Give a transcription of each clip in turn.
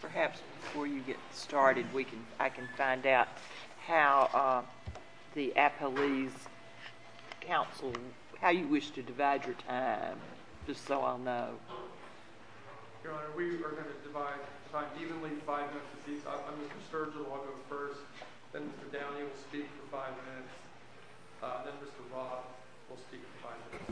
Perhaps, before you get started, I can find out how the Apolles Council, how you wish to divide your time, just so I'll know. Your Honor, we are going to divide time evenly in five minutes. Mr. Sturgill will go first, then Mr. Downing will speak for five minutes, then Mr. Roth will speak for five minutes.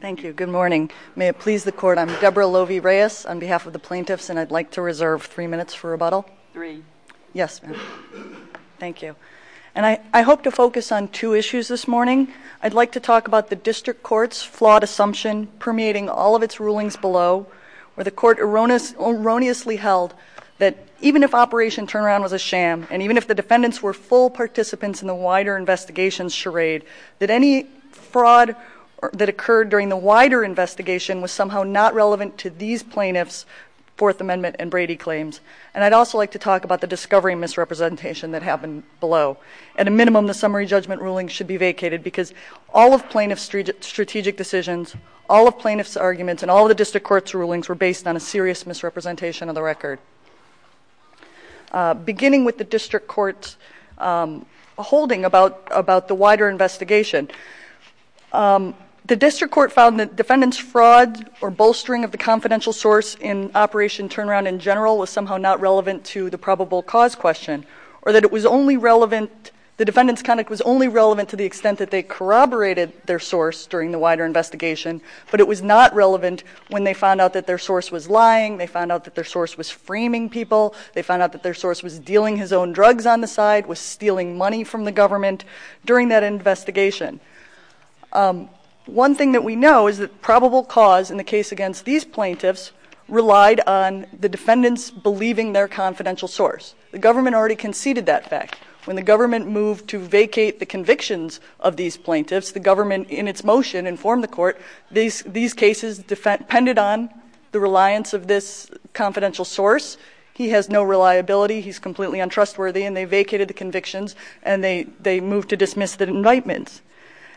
Thank you. Good morning. May it please the Court, I'm Deborah Lovi Reyes on behalf of the plaintiffs, and I'd like to reserve three minutes for rebuttal. Three. Yes, ma'am. Thank you. And I hope to focus on two issues this morning. I'd like to talk about the District Court's flawed assumption permeating all of its rulings below, where the Court erroneously held that even if Operation Turnaround was a sham, and even if the defendants were full participants in the wider investigation's charade, that any fraud that occurred during the wider investigation was somehow not relevant to these plaintiffs' Fourth Amendment and Brady claims. And I'd also like to talk about the discovery misrepresentation that happened below. At a minimum, the summary judgment ruling should be vacated, because all of plaintiffs' strategic decisions, all of plaintiffs' arguments, and all of the District Court's rulings were based on a serious misrepresentation of the record. Beginning with the District Court's holding about the wider investigation, the District Court found that defendants' fraud or bolstering of the confidential source in Operation Turnaround in general was somehow not relevant to the probable cause question, or that it was only relevant, the defendants' conduct was only relevant to the extent that they corroborated their source during the wider investigation, but it was not relevant when they found out that their source was lying, they found out that their source was framing people, they found out that their source was dealing his own drugs on the side, was stealing money from the government during that investigation. One thing that we know is that probable cause in the case against these plaintiffs relied on the defendants believing their confidential source. The government already conceded that fact. When the government moved to vacate the convictions of these plaintiffs, the government, in its motion, informed the court, these cases depended on the reliance of this confidential source. He has no reliability, he's completely untrustworthy, and they vacated the convictions and they moved to dismiss the indictments.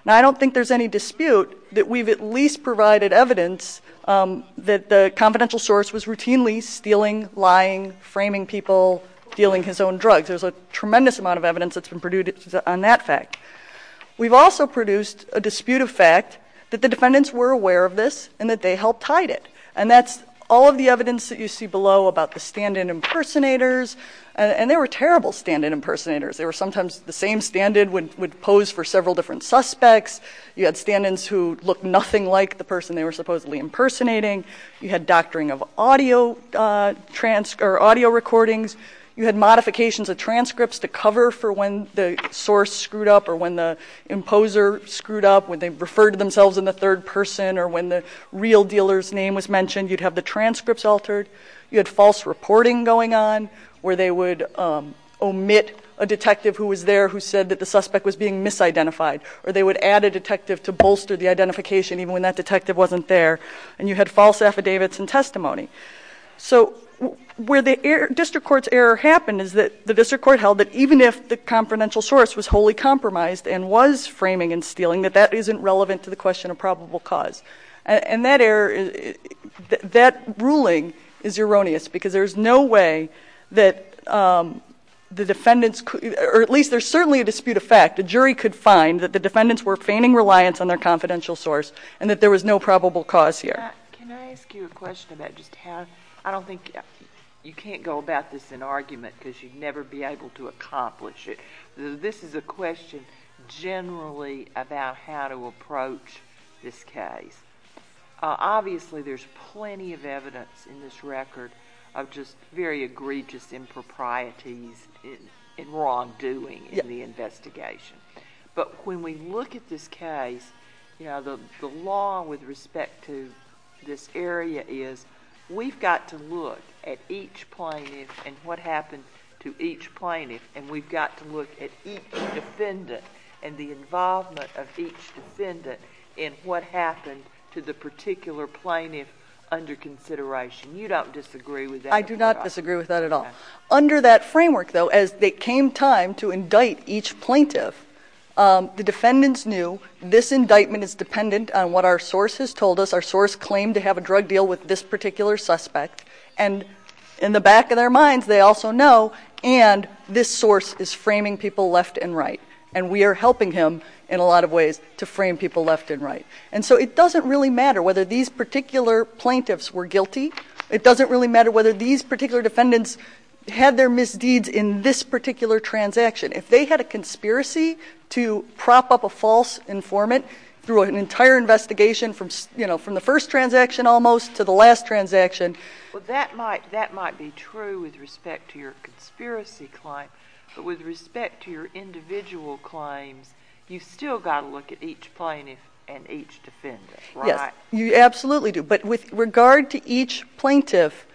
Now, I don't think there's any dispute that we've at least provided evidence that the confidential source was routinely stealing, lying, framing people, dealing his own drugs. There's a tremendous amount of evidence that's been produced on that fact. We've also produced a dispute of fact that the defendants were aware of this and that they helped hide it. And that's all of the evidence that you see below about the stand-in impersonators, and they were terrible stand-in impersonators. They were sometimes the same stand-in would pose for several different suspects. You had stand-ins who looked nothing like the person they were supposedly impersonating. You had doctoring of audio recordings. You had modifications of transcripts to cover for when the source screwed up or when the imposer screwed up, when they referred to themselves in the third person or when the real dealer's name was mentioned. You'd have the transcripts altered. You had false reporting going on where they would omit a detective who was there who said that the suspect was being misidentified, or they would add a detective to bolster the identification even when that detective wasn't there. And you had false affidavits and testimony. So where the district court's error happened is that the district court held that even if the confidential source was wholly compromised and was framing and stealing, that that isn't relevant to the question of probable cause. And that ruling is erroneous because there is no way that the defendants, or at least there's certainly a dispute of fact, a jury could find that the defendants were feigning reliance on their confidential source and that there was no probable cause here. Can I ask you a question about just how... I don't think... you can't go about this in argument because you'd never be able to accomplish it. This is a question generally about how to approach this case. Obviously, there's plenty of evidence in this record of just very egregious improprieties and wrongdoing in the investigation. But when we look at this case, the law with respect to this area is we've got to look at each plaintiff and what happened to each plaintiff, and we've got to look at each defendant and the involvement of each defendant in what happened to the particular plaintiff under consideration. You don't disagree with that? I do not disagree with that at all. Under that framework, though, as it came time to do, this indictment is dependent on what our source has told us. Our source claimed to have a drug deal with this particular suspect. And in the back of their minds, they also know and this source is framing people left and right. And we are helping him in a lot of ways to frame people left and right. And so it doesn't really matter whether these particular plaintiffs were guilty. It doesn't really matter whether these particular defendants had their misdeeds in this particular transaction. If they had a conspiracy to prop up a false informant through an entire investigation from the first transaction almost to the last transaction. Well, that might be true with respect to your conspiracy claim. But with respect to your individual claims, you've still got to look at each plaintiff and each defendant, right? Yes, you absolutely do. But with regard to each plaintiff,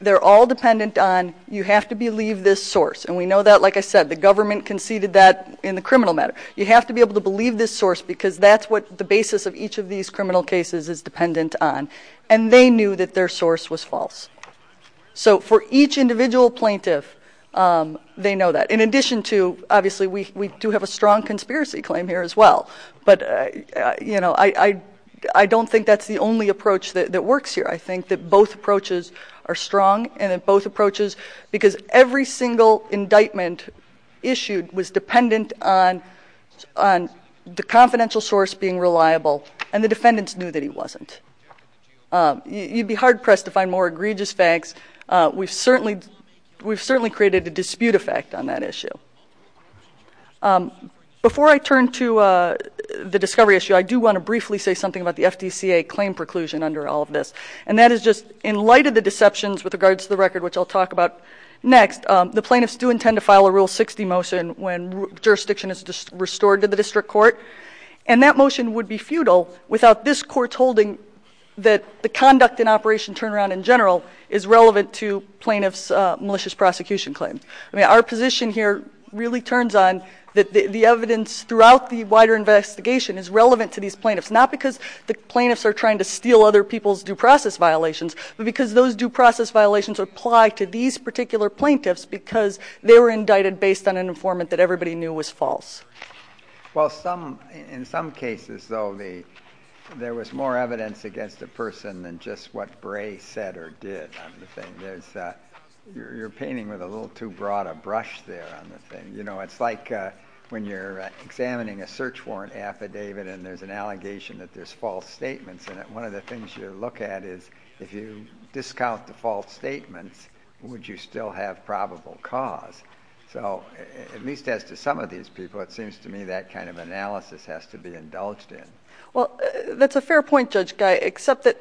they're all dependent on you have to believe this source. And we know that, like I said, the government conceded that in the criminal matter. You have to be able to believe this source because that's what the basis of each of these criminal cases is dependent on. And they knew that their source was false. So for each individual plaintiff, they know that. In addition to, obviously, we do have a strong conspiracy claim here as well. But, you know, I don't think that's the only approach that works here. I think that both approaches are strong and that both depend on the confidential source being reliable and the defendants knew that he wasn't. You'd be hard-pressed to find more egregious facts. We've certainly created a dispute effect on that issue. Before I turn to the discovery issue, I do want to briefly say something about the FDCA claim preclusion under all of this. And that is just, in light of the deceptions with regards to the record, which I'll talk about next, the plaintiffs do intend to file a Rule 60 motion when jurisdiction is restored to the district court. And that motion would be futile without this court holding that the conduct and operation turnaround in general is relevant to plaintiffs' malicious prosecution claim. I mean, our position here really turns on the evidence throughout the wider investigation is relevant to these plaintiffs, not because the plaintiffs are trying to steal other people's due process violations, but because those due process violations apply to these particular plaintiffs because they were indicted based on an informant that everybody knew was false. Well, in some cases, though, there was more evidence against the person than just what Bray said or did on the thing. You're painting with a little too broad a brush there on the thing. You know, it's like when you're examining a search warrant affidavit and there's an allegation that there's false statements in it. One of the things you look at is if you at least as to some of these people, it seems to me that kind of analysis has to be indulged in. Well, that's a fair point, Judge Guy, except that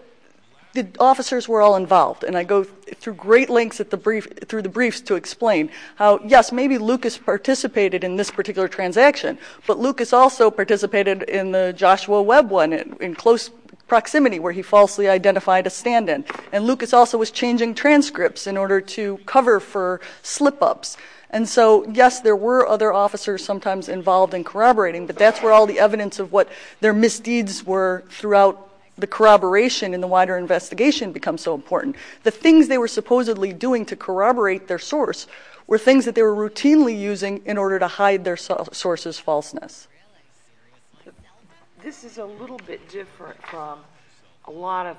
the officers were all involved. And I go through great lengths through the briefs to explain how, yes, maybe Lucas participated in this particular transaction, but Lucas also participated in the Joshua Webb one in close proximity where he falsely identified a stand-in. And Lucas also was changing transcripts in order to cover for slip-ups. And so, yes, there were other officers sometimes involved in corroborating, but that's where all the evidence of what their misdeeds were throughout the corroboration and the wider investigation become so important. The things they were supposedly doing to corroborate their source were things that they were routinely using in order to hide their source's falseness. This is a little bit different from a lot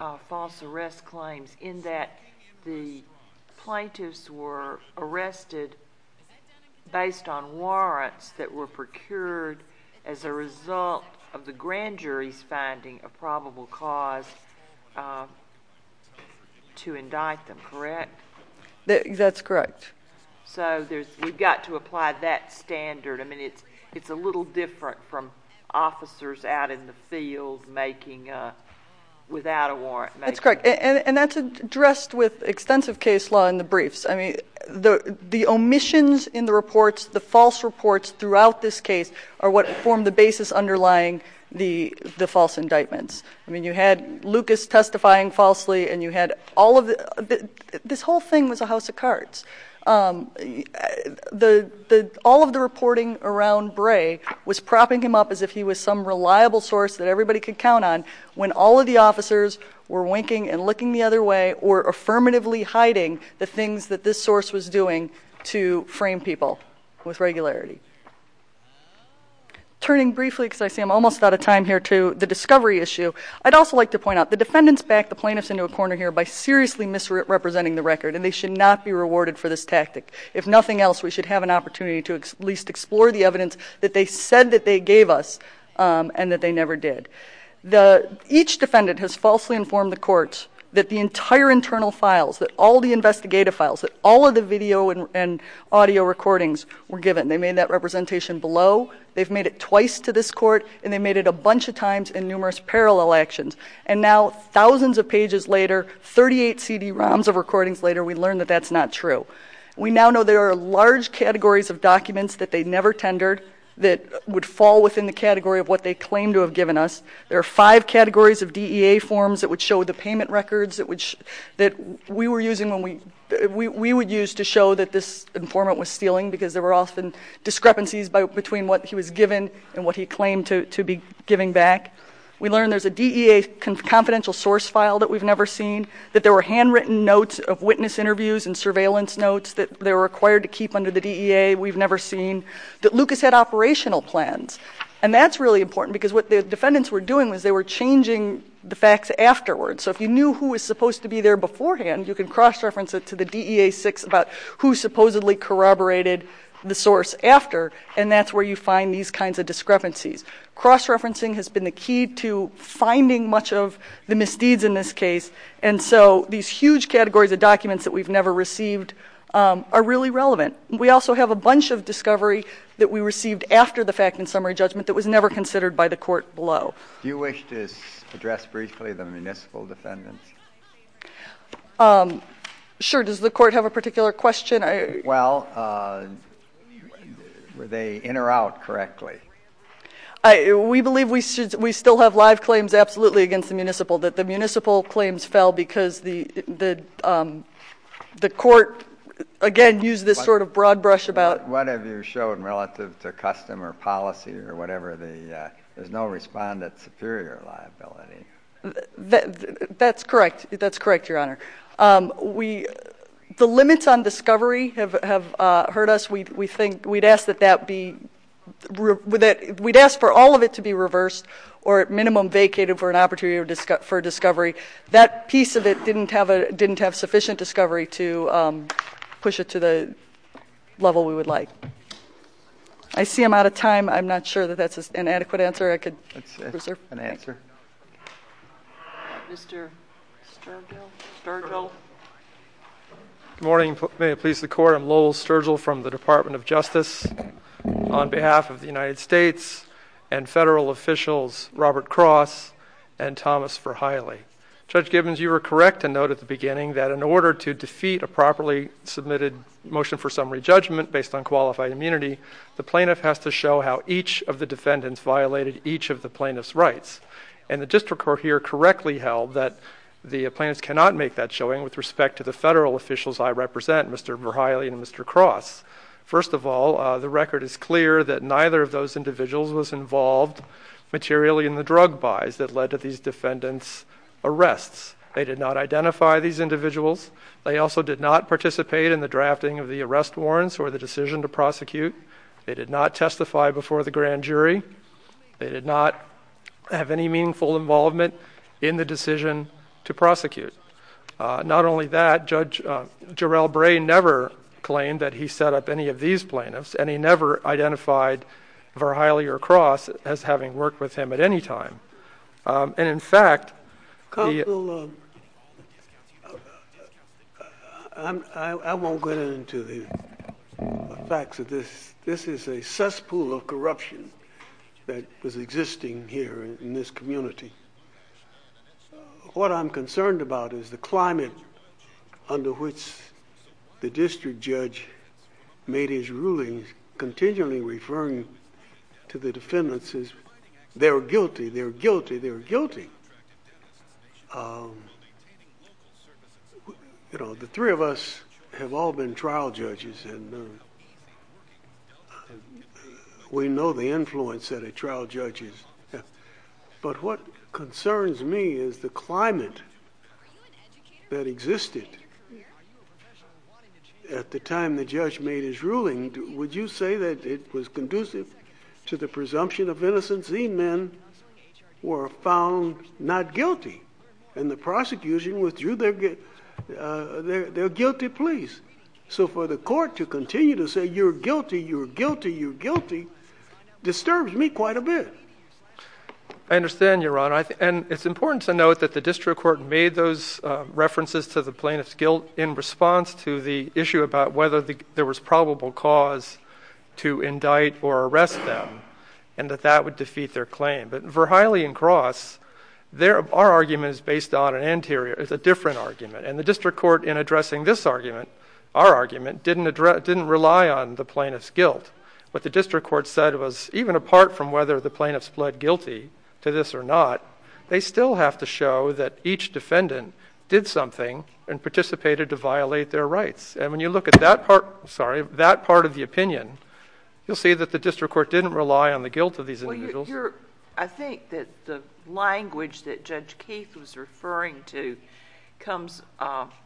of false arrest claims in that the plaintiffs were arrested based on warrants that were procured as a result of the grand jury's finding a probable cause to indict them, correct? That's correct. So we've got to apply that standard. I mean, it's a little different from officers out in the field making, without a warrant, making... That's correct. And that's addressed with extensive case law in the briefs. I mean, the omissions in the reports, the false reports throughout this case are what form the basis underlying the false indictments. I mean, you had Lucas testifying falsely and you had all of the... This whole thing was a house of cards. All of the reporting around Bray was propping him up as if he was some reliable source that everybody could count on when all of the officers were winking and looking the other way or affirmatively hiding the things that this source was doing to frame people with regularity. Turning briefly, because I see I'm almost out of time here, to the discovery issue. I'd also like to point out the defendants backed the plaintiffs into a corner here by seriously misrepresenting the record and they should not be rewarded for this tactic. If nothing else, we should have an opportunity to at least explore the evidence that they said that they gave us and that they never did. Each defendant has falsely informed the court that the entire internal files, that all the investigative files, that all of the video and audio recordings were given. They made that representation below. They've made it twice to this court and they made it a bunch of times in numerous parallel actions and now thousands of pages later, 38 CD-ROMs of recordings later, we learn that that's not true. We now know there are large categories of documents that they never tendered that would fall within the category of what they claim to have given us. There are five categories of DEA forms that would show the payment records that we would use to show that this informant was stealing because there were often discrepancies between what he was given and what he claimed to be giving back. We learn there's a DEA confidential source file that we've never seen, that there were handwritten notes of witness interviews and surveillance notes that they were required to keep under the DEA we've never seen, that Lucas had operational plans and that's really important because what the defendants were doing was they were changing the facts afterwards. So if you knew who was supposed to be there beforehand, you can cross-reference it to the DEA 6 about who supposedly corroborated the source after and that's where you find these kinds of discrepancies. Cross-referencing has been the key to finding much of the misdeeds in this case and so these huge categories of documents that we've never received are really relevant. We also have a bunch of discovery that we received after the fact and summary judgment that was never considered by the court below. Do you wish to address briefly the municipal defendants? Sure, does the court have a particular question? Well, were they in or out correctly? We believe we still have live claims absolutely against the municipal, that the municipal claims fell because the court, again, used this sort of broad brush about... What have you shown relative to custom or policy or whatever, there's no respondent superior liability. That's correct, that's correct, your honor. The limits on discovery have hurt us. We think we'd ask that that be, we'd ask for all of it to be reversed or at minimum vacated for an opportunity for discovery. That piece of it didn't have sufficient discovery to push it to the level we would like. I see I'm out of time. I'm not sure that that's an adequate answer I could... Mr. Sturgill? Good morning, may it please the court. I'm Lowell Sturgill from the Department of Justice. On behalf of the United States and federal officials, Robert Cross and Thomas Verheille. Judge Gibbons, you were correct to note at the beginning that in order to defeat a properly submitted motion for summary judgment based on qualified immunity, the plaintiff has to evidence violated each of the plaintiff's rights. And the district court here correctly held that the plaintiffs cannot make that showing with respect to the federal officials I represent, Mr. Verheille and Mr. Cross. First of all, the record is clear that neither of those individuals was involved materially in the drug buys that led to these defendants' arrests. They did not identify these individuals. They also did not participate in the drafting of the arrest warrants or the decision to prosecute. They did not testify before the grand jury. They did not have any meaningful involvement in the decision to prosecute. Not only that, Judge Jarrell Bray never claimed that he set up any of these plaintiffs, and he never identified Verheille or Cross as having worked with him at any time. And in of corruption that was existing here in this community. What I'm concerned about is the climate under which the district judge made his ruling, continually referring to the defendants as, they're guilty, they're guilty, they're guilty. You know, the three of us have all been trial judges, and we know the influence that a trial judge has. But what concerns me is the climate that existed at the time the judge made his ruling. Would you say that it was conducive to the presumption of innocence? These men were found not guilty, and the prosecution withdrew their guilty pleas. So for the court to continue to say, you're guilty, you're guilty, you're guilty, disturbs me quite a bit. I understand, Your Honor. And it's important to note that the district court made those references to the plaintiff's guilt in response to the issue about whether there was probable cause to indict or arrest them, and that that would defeat their claim. But Verheille and And the district court, in addressing this argument, our argument, didn't rely on the plaintiff's guilt. What the district court said was, even apart from whether the plaintiff split guilty to this or not, they still have to show that each defendant did something and participated to violate their rights. And when you look at that part, sorry, that part of the opinion, you'll see that the district court didn't rely on the guilt of these individuals. I think that the language that Judge Keith was referring to comes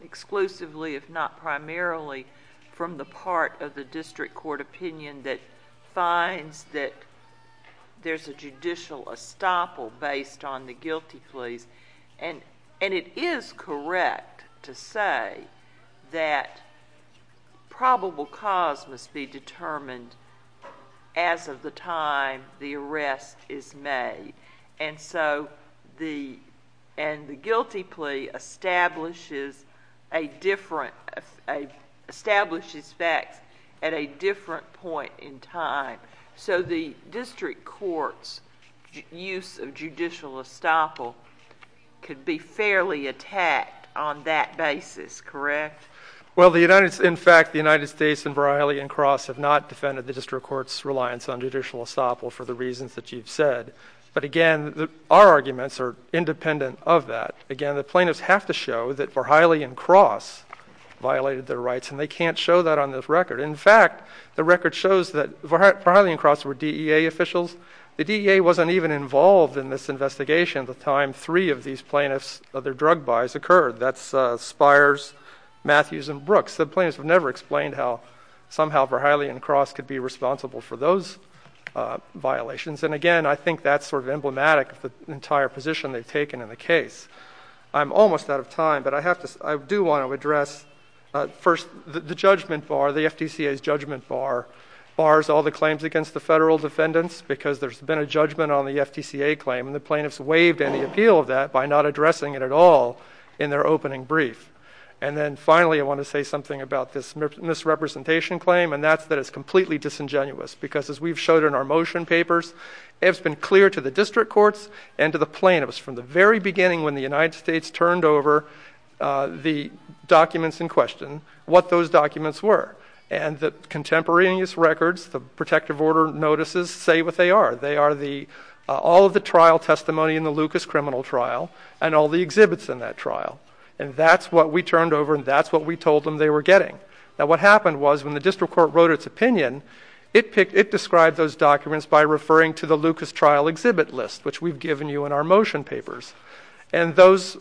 exclusively, if not primarily, from the part of the district court opinion that finds that there's a judicial estoppel based on the guilty pleas. And it is correct to say that probable cause must be determined as of the time the arrest is made. And so the guilty plea establishes facts at a different point in time. So the district court's use of judicial estoppel could be fairly attacked on that basis, correct? Well, in fact, the United States and Verheille and Cross have not defended the district court's reliance on judicial estoppel for the reasons that you've said. But again, our arguments are independent of that. Again, the plaintiffs have to show that Verheille and Cross violated their rights, and they can't show that on this record. In fact, the record shows that Verheille and Cross were DEA officials. The DEA wasn't even involved in this investigation at the time three of these plaintiffs, their drug buys, occurred. That's Spires, Matthews and Brooks. The plaintiffs have never explained how somehow Verheille and Cross could be responsible for those violations. And again, I think that's sort of emblematic of the entire position they've taken in the case. I'm almost out of time, but I do want to address first the judgment bar, the FTCA's judgment bar, bars all the claims against the federal defendants because there's been a judgment on the FTCA claim, and the plaintiffs waived any appeal of that by not addressing it at all in their opening brief. And then finally, I want to say something about this misrepresentation claim, and that's that it's completely disingenuous because as we've showed in our motion papers, it's been clear to the district courts and to the plaintiffs from the very beginning when the United States turned over the documents in question, what those documents were. And the contemporaneous records, the protective order notices say what they are. They are the all of the trial testimony in the Lucas criminal trial and all the exhibits in that trial. And that's what we turned over, and that's what we told them they were getting. Now what happened was when the district court wrote its opinion, it picked, it described those documents by referring to the Lucas trial exhibit list, which we've given you in our motion papers. And those,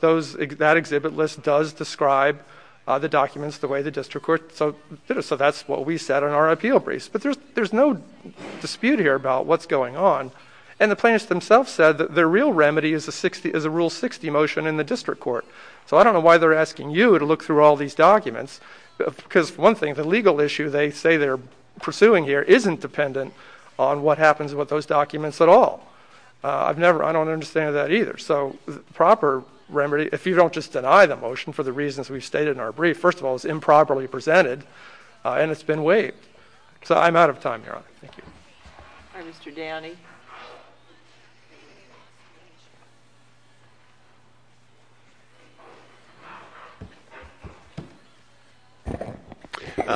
those, that exhibit list does describe the documents the way the district court did it. So that's what we said in our appeal briefs, but there's, there's no dispute here about what's going on. And the plaintiffs themselves said that their real remedy is a 60, is a rule 60 motion in the district court. So I don't know why they're asking you to look through all these documents because one thing, the legal issue they say they're pursuing here isn't dependent on what happens with those documents at all. I've never, I don't understand that either. So the proper remedy, if you don't just deny the motion for the reasons we've stated in our brief, first of all, it's improperly presented and it's been waived. So I'm out of time here. Thank you, Mr. Downey.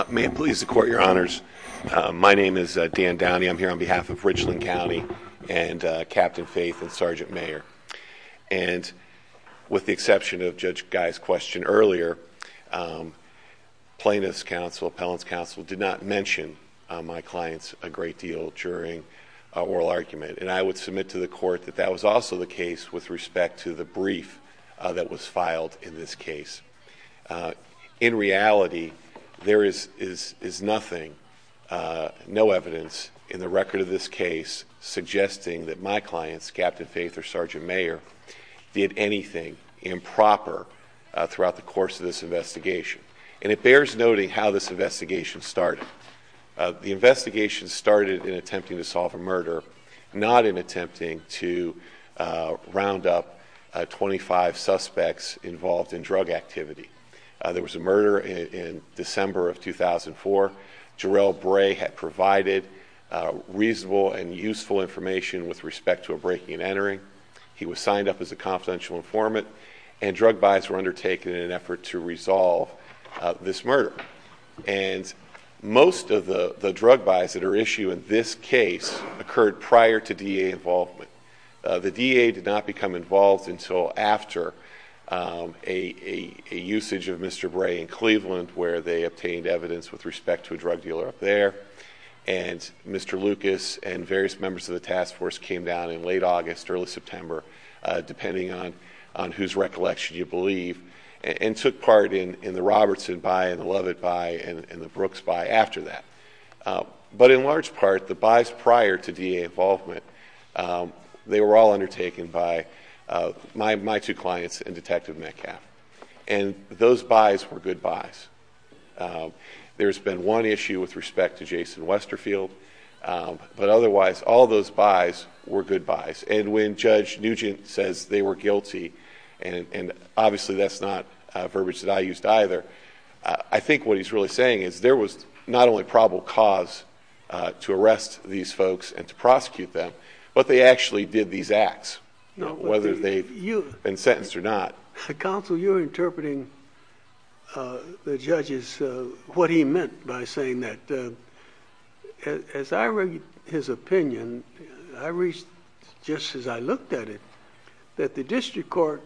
May it please the court, your honors. My name is Dan Downey. I'm here on behalf of Richland earlier, um, plaintiff's counsel, appellant's counsel did not mention my clients a great deal during a oral argument. And I would submit to the court that that was also the case with respect to the brief that was filed in this case. Uh, in reality, there is, is, is nothing, uh, no evidence in the record of this case suggesting that my clients, captain faith or sergeant mayor did anything improper, uh, throughout the course of this investigation. And it bears noting how this investigation started. Uh, the investigation started in attempting to solve a murder, not in attempting to, uh, round up, uh, 25 suspects involved in drug activity. Uh, there was a murder in December of 2004. Jarrell Bray had provided, uh, reasonable and useful information with respect to a breaking and entering. He was signed up as a confidential informant and drug buys were undertaken in an effort to resolve this murder. And most of the, the drug buys that are issued in this case occurred prior to DA involvement. Uh, the DA did not become involved until after, um, a, a, a usage of Mr. Bray in Cleveland where they obtained evidence with respect to a drug dealer up there. And Mr. Lucas and various members of the task force came down in late August, early September, uh, depending on, on whose recollection you believe and, and took part in, in the Robertson buy and the Lovett buy and the Brooks buy after that. Uh, but in large part, the buys prior to DA involvement, um, they were all undertaken by, uh, my, my two clients and detective Metcalf. And those buys were good buys. Um, there's been one issue with respect to Jason Westerfield. Um, but otherwise all those buys were good buys. And when judge Nugent says they were guilty and, and obviously that's not a verbiage that I used either. Uh, I think what he's really saying is there was not only probable cause, uh, to arrest these folks and to prosecute them, but they actually did these acts, whether they've been sentenced or not. Counsel, you're interpreting, uh, the judges, uh, what he meant by saying that, uh, as I read his opinion, I reached just as I looked at it, that the district court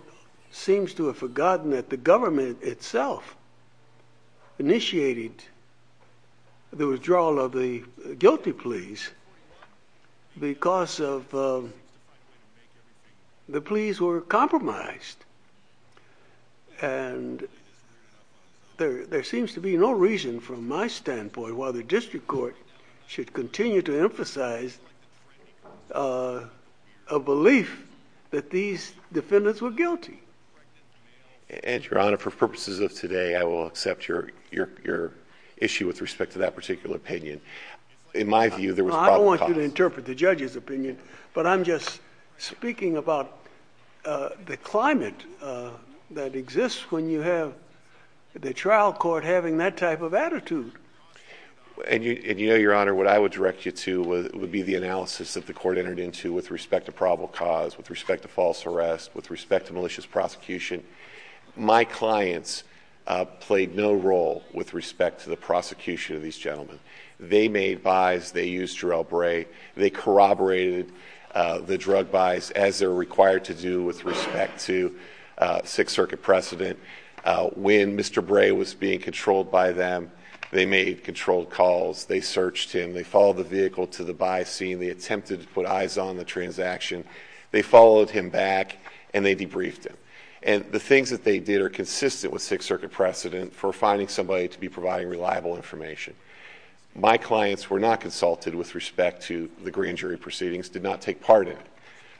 seems to have forgotten that the government itself initiated the withdrawal of the guilty pleas because of, um, the pleas were compromised. And there, there seems to be no reason from my standpoint why the district court should continue to emphasize, uh, a belief that these defendants were guilty. And Your Honor, for purposes of today, I will accept your, your, your issue with respect to that particular opinion. In my view, there was probably, I don't want you to interpret the judge's opinion, but I'm just speaking about, uh, the climate, uh, that exists when you have the trial court having that type of attitude. And you, and you know, Your Honor, what I would direct you to would be the analysis that the court entered into with respect to probable cause, with respect to false arrest, with respect to malicious prosecution. My clients, uh, played no role with respect to the prosecution of these gentlemen. They made buys, they used Jarell Bray, they corroborated, uh, the drug buys as they're required to do with respect to, uh, Sixth Circuit precedent. Uh, when Mr. Bray was being controlled by them, they made controlled calls, they searched him, they followed the vehicle to the buy scene, they attempted to put eyes on the transaction, they followed him back and they debriefed him. And the things that they did are consistent with Sixth Circuit precedent for finding somebody to be providing reliable information. My clients were not consulted with respect to the grand jury proceedings, did not take part in it.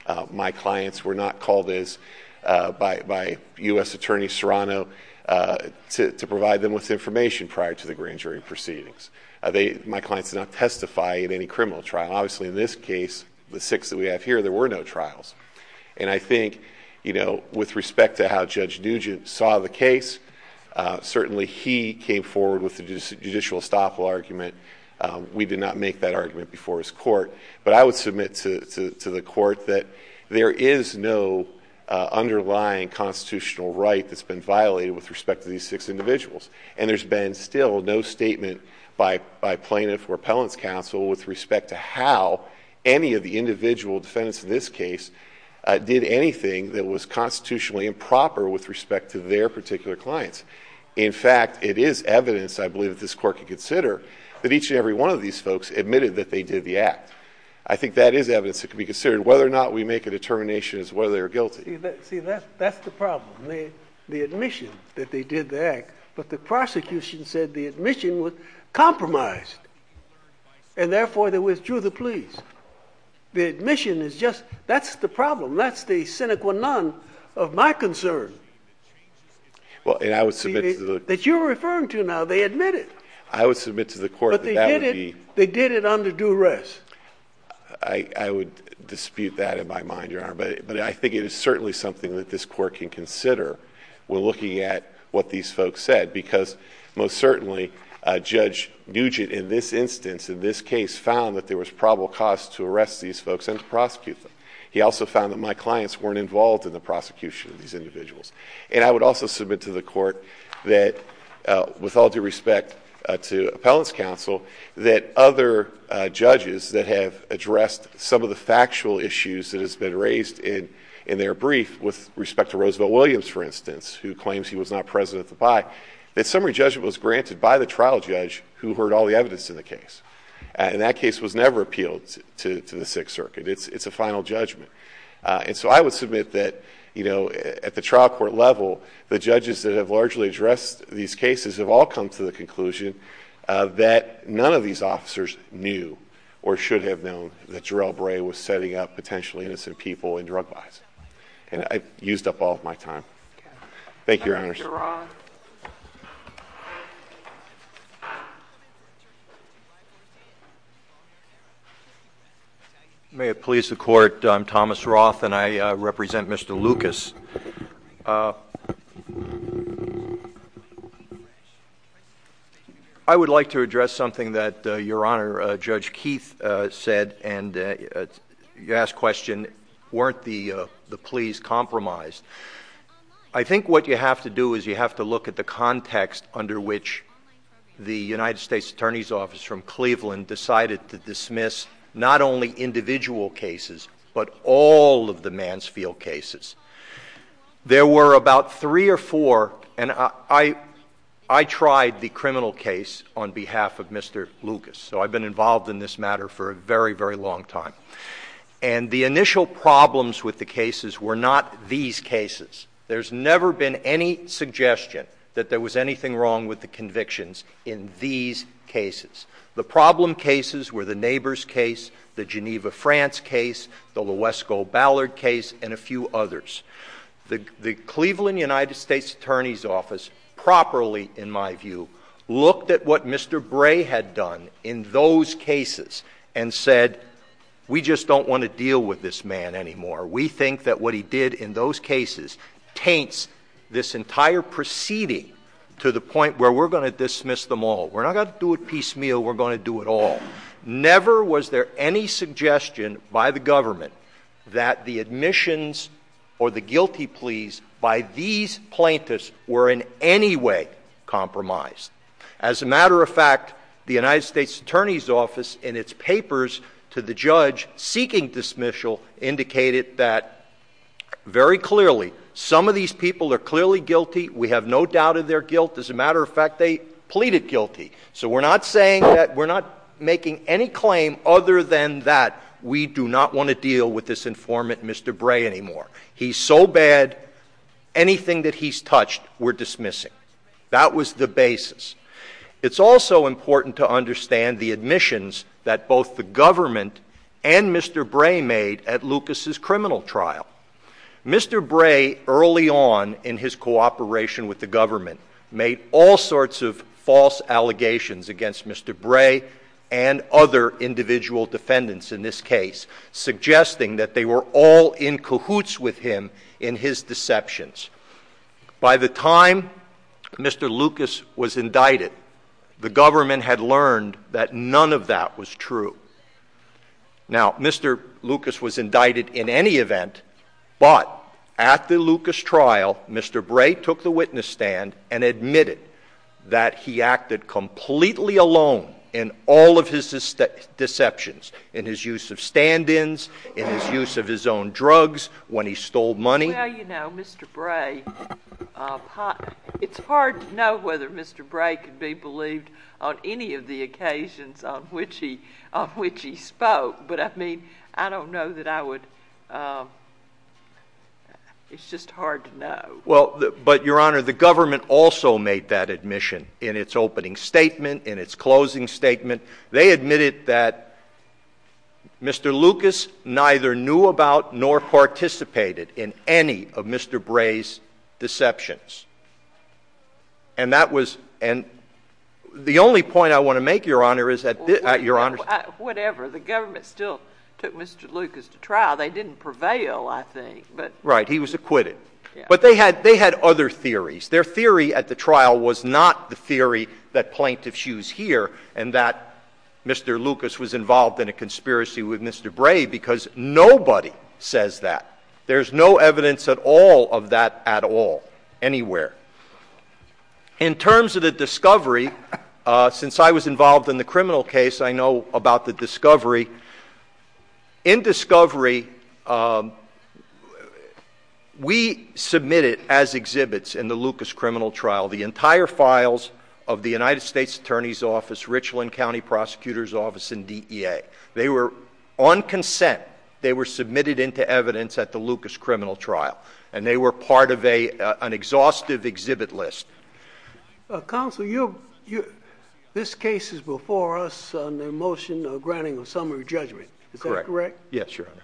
Uh, my clients were not called as, uh, by, by U.S. Attorney Serrano, uh, to, to provide them with information prior to the grand jury proceedings. Uh, they, my clients did not testify in any criminal trial. Obviously in this case, the six that we have here, there were no trials. And I think, you know, with respect to how Judge Nugent saw the case, uh, certainly he came forward with the judicial estoppel argument. Um, we did not make that argument before his court, but I would submit to, to, to the court that there is no, uh, underlying constitutional right that's been violated with respect to these six individuals. And there's been still no statement by, by plaintiff or appellant's counsel with respect to how any of the individual defendants in this case, uh, did anything that was constitutionally proper with respect to their particular clients. In fact, it is evidence, I believe that this court could consider that each and every one of these folks admitted that they did the act. I think that is evidence that can be considered whether or not we make a determination as whether they're guilty. See, that's, that's the problem. They, the admission that they did the act, but the prosecution said the admission was compromised and therefore they withdrew the pleas. The admission is just, that's the problem. That's the sine qua non of my concern. Well, and I would submit to the, that you're referring to now, they admit it. I would submit to the court that they did it under duress. I, I would dispute that in my mind, Your Honor, but, but I think it is certainly something that this court can consider when looking at what these folks said, because most certainly, uh, Judge Nugent in this instance, in this case found that there was probable cause to arrest these folks and prosecute them. He also found that my clients weren't involved in the prosecution of these individuals. And I would also submit to the court that, uh, with all due respect, uh, to Appellant's Counsel, that other, uh, judges that have addressed some of the factual issues that has been raised in, in their brief with respect to Roosevelt Williams, for instance, who claims he was not present at the pie, that summary judgment was granted by the trial judge who heard all the evidence in the case. Uh, and that case was never appealed to, to the Sixth Circuit. It's, it's a final judgment. Uh, and so I would submit that, you know, at the trial court level, the judges that have largely addressed these cases have all come to the conclusion, uh, that none of these officers knew or should have known that Jarrell Bray was setting up potentially innocent people in drug buys. And I've used up all of my time. Thank you, Your Honors. May it please the court. I'm Thomas Roth and I, uh, represent Mr. Lucas. Uh, I would like to address something that, uh, Your Honor, uh, Judge Keith, uh, said and, uh, you asked question, weren't the, uh, the pleas compromised? I think what you have to do is you have to look at the context under which the United States Attorney's Office from Cleveland decided to dismiss not only individual cases, but all of the Mansfield cases. There were about three or four and I, I, I tried the criminal case on behalf of Mr. Lucas. So I've been involved in this matter for a very, very long time. And the initial problems with the cases were not these cases. There's never been any suggestion that there was anything wrong with the convictions in these cases. The problem cases were the neighbor's case, the Geneva, France case, the Lowe's gold Ballard case, and a few others. The Cleveland United States Attorney's Office properly, in my view, looked at what Mr. Bray had done in those cases and said, we just don't want to deal with this man anymore. We think that what he did in those cases taints this entire proceeding to the point where we're going to dismiss them all. We're not going to do it piecemeal. We're going to do it all. Never was there any suggestion by the government that the admissions or the guilty pleas by these plaintiffs were in any way to the judge seeking dismissal indicated that very clearly, some of these people are clearly guilty. We have no doubt of their guilt. As a matter of fact, they pleaded guilty. So we're not saying that we're not making any claim other than that. We do not want to deal with this informant, Mr. Bray anymore. He's so bad, anything that he's touched, we're dismissing. That was the government and Mr. Bray made at Lucas's criminal trial. Mr. Bray, early on in his cooperation with the government, made all sorts of false allegations against Mr. Bray and other individual defendants in this case, suggesting that they were all in cahoots with him in his deceptions. By the time Mr. Lucas was indicted, the government had learned that none of that was true. Now, Mr. Lucas was indicted in any event, but at the Lucas trial, Mr. Bray took the witness stand and admitted that he acted completely alone in all of his deceptions, in his use of stand-ins, in his use of his own drugs, when he stole money. Well, you know, Mr. Bray, it's hard to know whether Mr. Bray could be believed on any of the occasions on which he spoke, but I mean, I don't know that I would, it's just hard to know. Well, but Your Honor, the government also made that admission in its opening statement, in its closing statement. They admitted that Mr. Lucas neither knew about nor participated in any of Mr. Bray's deceptions. And that was, and the only point I want to make, Your Honor, is that, Your Honor. Whatever, the government still took Mr. Lucas to trial. They didn't prevail, I think, but. Right, he was acquitted. But they had other theories. Their theory at the trial was not the theory that plaintiffs use here, and that Mr. Lucas was involved in a conspiracy with Mr. Bray, because nobody says that. There's no evidence at all of that at all, anywhere. In terms of the discovery, since I was involved in the criminal case, I know about the discovery. In discovery, we submitted as exhibits in the Lucas criminal trial, the entire files of the United States Attorney's Office, Richland County Prosecutor's Office, and DEA. They were, on consent, they were submitted into evidence at the Lucas criminal trial, and they were part of an exhaustive exhibit list. Counsel, this case is before us on the motion of granting a summary judgment. Is that correct? Yes, Your Honor.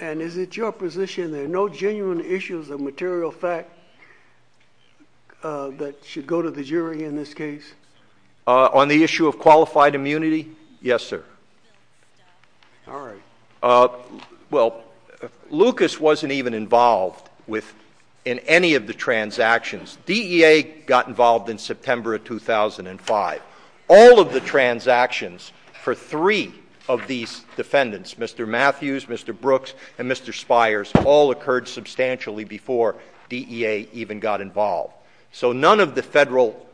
And is it your position there are no genuine issues of material fact that should go to the jury in this case? On the issue of qualified immunity, yes, sir. All right. Well, Lucas wasn't even involved in any of the transactions. DEA got involved in September of 2005. All of the transactions for three of these defendants, Mr. Matthews, Mr. Brooks, and Mr. Spiers, all occurred substantially before DEA even got involved. So none of the federal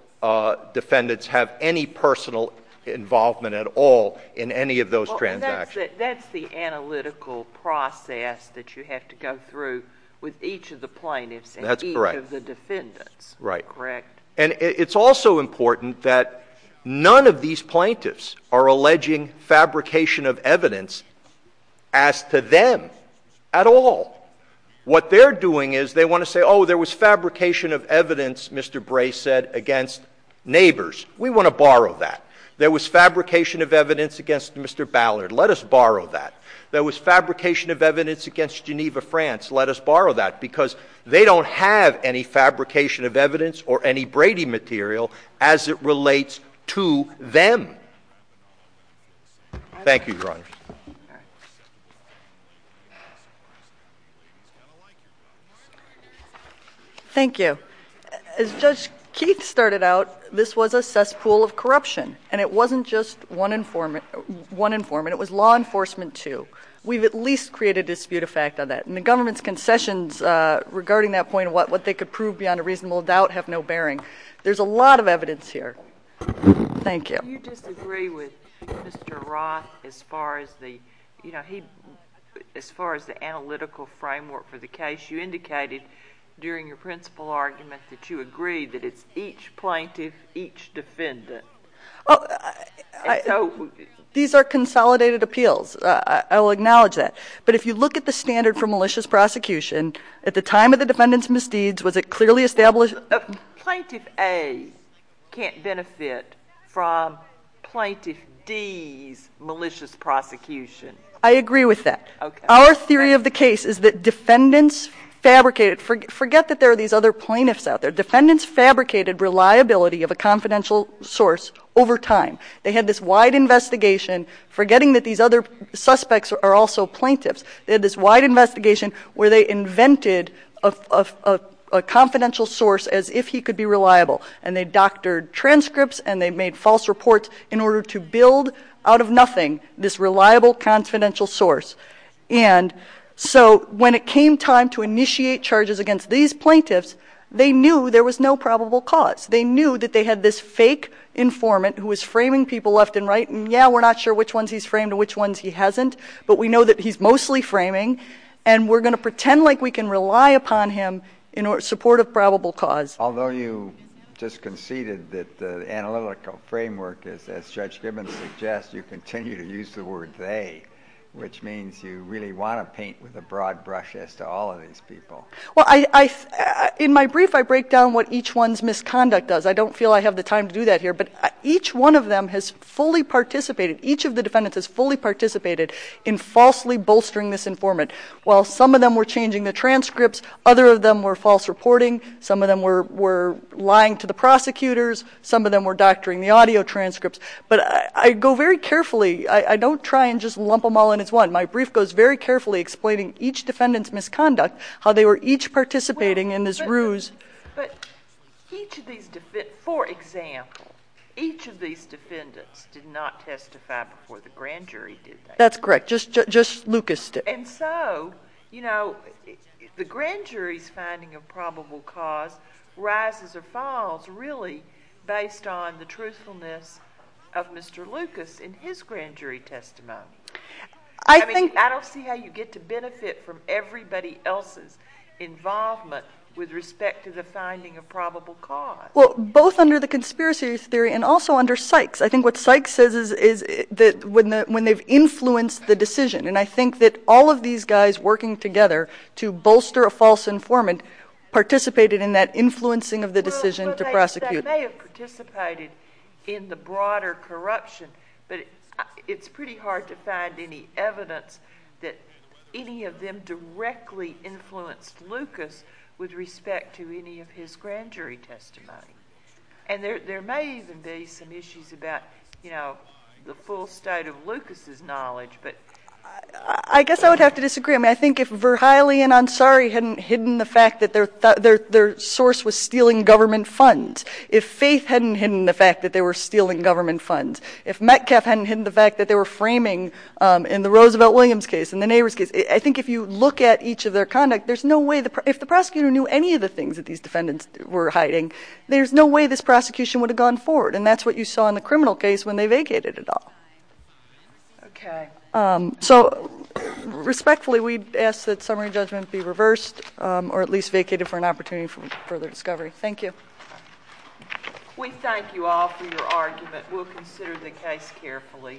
defendants have any personal involvement at all in any of those transactions. That's the analytical process that you have to go through with each of the plaintiffs and each of the defendants. Right. Correct. And it's also important that none of these plaintiffs are alleging fabrication of evidence as to them at all. What they're doing is they want to say, oh, there was fabrication of evidence, Mr. Bray said, against neighbors. We want to borrow that. There was fabrication of evidence against Mr. Ballard. Let us borrow that. There was fabrication of evidence against Geneva, France. Let us borrow that. Because they don't have any fabrication of evidence or any Brady material as it relates to them. Thank you, Your Honor. Thank you. As Judge Keith started out, this was a cesspool of corruption. And it wasn't just one informant. It was law enforcement, too. We've at least created dispute of fact on that. And the government's concessions regarding that point of what they could prove beyond a reasonable doubt have no bearing. There's a lot of evidence here. Thank you. Do you disagree with Mr. Roth as far as the analytical framework for the case? You indicated during your principal argument that you agree that it's each plaintiff, each defendant. Oh, these are consolidated appeals. I will acknowledge that. But if you look at the standard for malicious prosecution, at the time of the defendant's misdeeds, was it clearly established? Plaintiff A can't benefit from Plaintiff D's malicious prosecution. I agree with that. Our theory of the case is that defendants fabricated. Forget that there are these other plaintiffs out there. Defendants fabricated reliability of a confidential source over time. They had this wide investigation, forgetting that these other suspects are also plaintiffs. They had this wide investigation where they invented a confidential source as if he could be reliable. And they doctored transcripts and they made false reports in order to build out of nothing this reliable confidential source. And so when it came time to initiate charges against these plaintiffs, they knew there was no probable cause. They knew that they had this fake informant who was framing people left and right. And yeah, we're not sure which ones he's framed and which ones he hasn't, but we know that he's mostly framing. And we're going to pretend like we can rely upon him in support of probable cause. Although you just conceded that the analytical framework is, as Judge Gibbons suggests, you continue to use the word they, which means you really want to paint with a broad brush as to all of these people. Well, in my brief, I break down what each one's misconduct does. I don't feel I have the time to do that here. But each one of them has fully participated. Each of the defendants has fully participated in falsely bolstering this informant. While some of them were changing the transcripts, other of them were false reporting. Some of them were lying to the prosecutors. Some of them were doctoring the audio transcripts. But I go very carefully. I don't try and just lump them all in as one. My brief goes very carefully explaining each defendant's misconduct, how they were each participating in this ruse. But each of these defendants, for example, each of these defendants did not testify before the grand jury, did they? That's correct. Just Lucas did. And so, you know, the grand jury's finding of probable cause rises or falls really based on the truthfulness of Mr. Lucas in his grand jury testimony. I mean, I don't see how you get to benefit from everybody else's involvement with respect to the finding of probable cause. Well, both under the conspiracy theory and also under Sykes. I think what Sykes says is that when they've influenced the decision, and I think that all of these guys working together to bolster a false informant participated in that influencing of the decision to prosecute. But they may have participated in the broader corruption. But it's pretty hard to find any evidence that any of them directly influenced Lucas with respect to any of his grand jury testimony. And there may even be some issues about, you know, the full state of Lucas's knowledge. But I guess I would have to disagree. I mean, I think if Verheyle and Ansari hadn't hidden the fact that their source was stealing government funds, if Faith hadn't hidden the fact that they were stealing government funds, if Metcalfe hadn't hidden the fact that they were framing in the Roosevelt-Williams case, in the Nabors case, I think if you look at each of their conduct, there's no way, if the prosecutor knew any of the things that these defendants were hiding, there's no way this prosecution would have gone forward. And that's what you saw in the criminal case when they vacated it all. Okay. So respectfully, we'd ask that summary judgment be reversed or at least vacated for an opportunity for further discovery. Thank you. We thank you all for your argument. We'll consider the case carefully.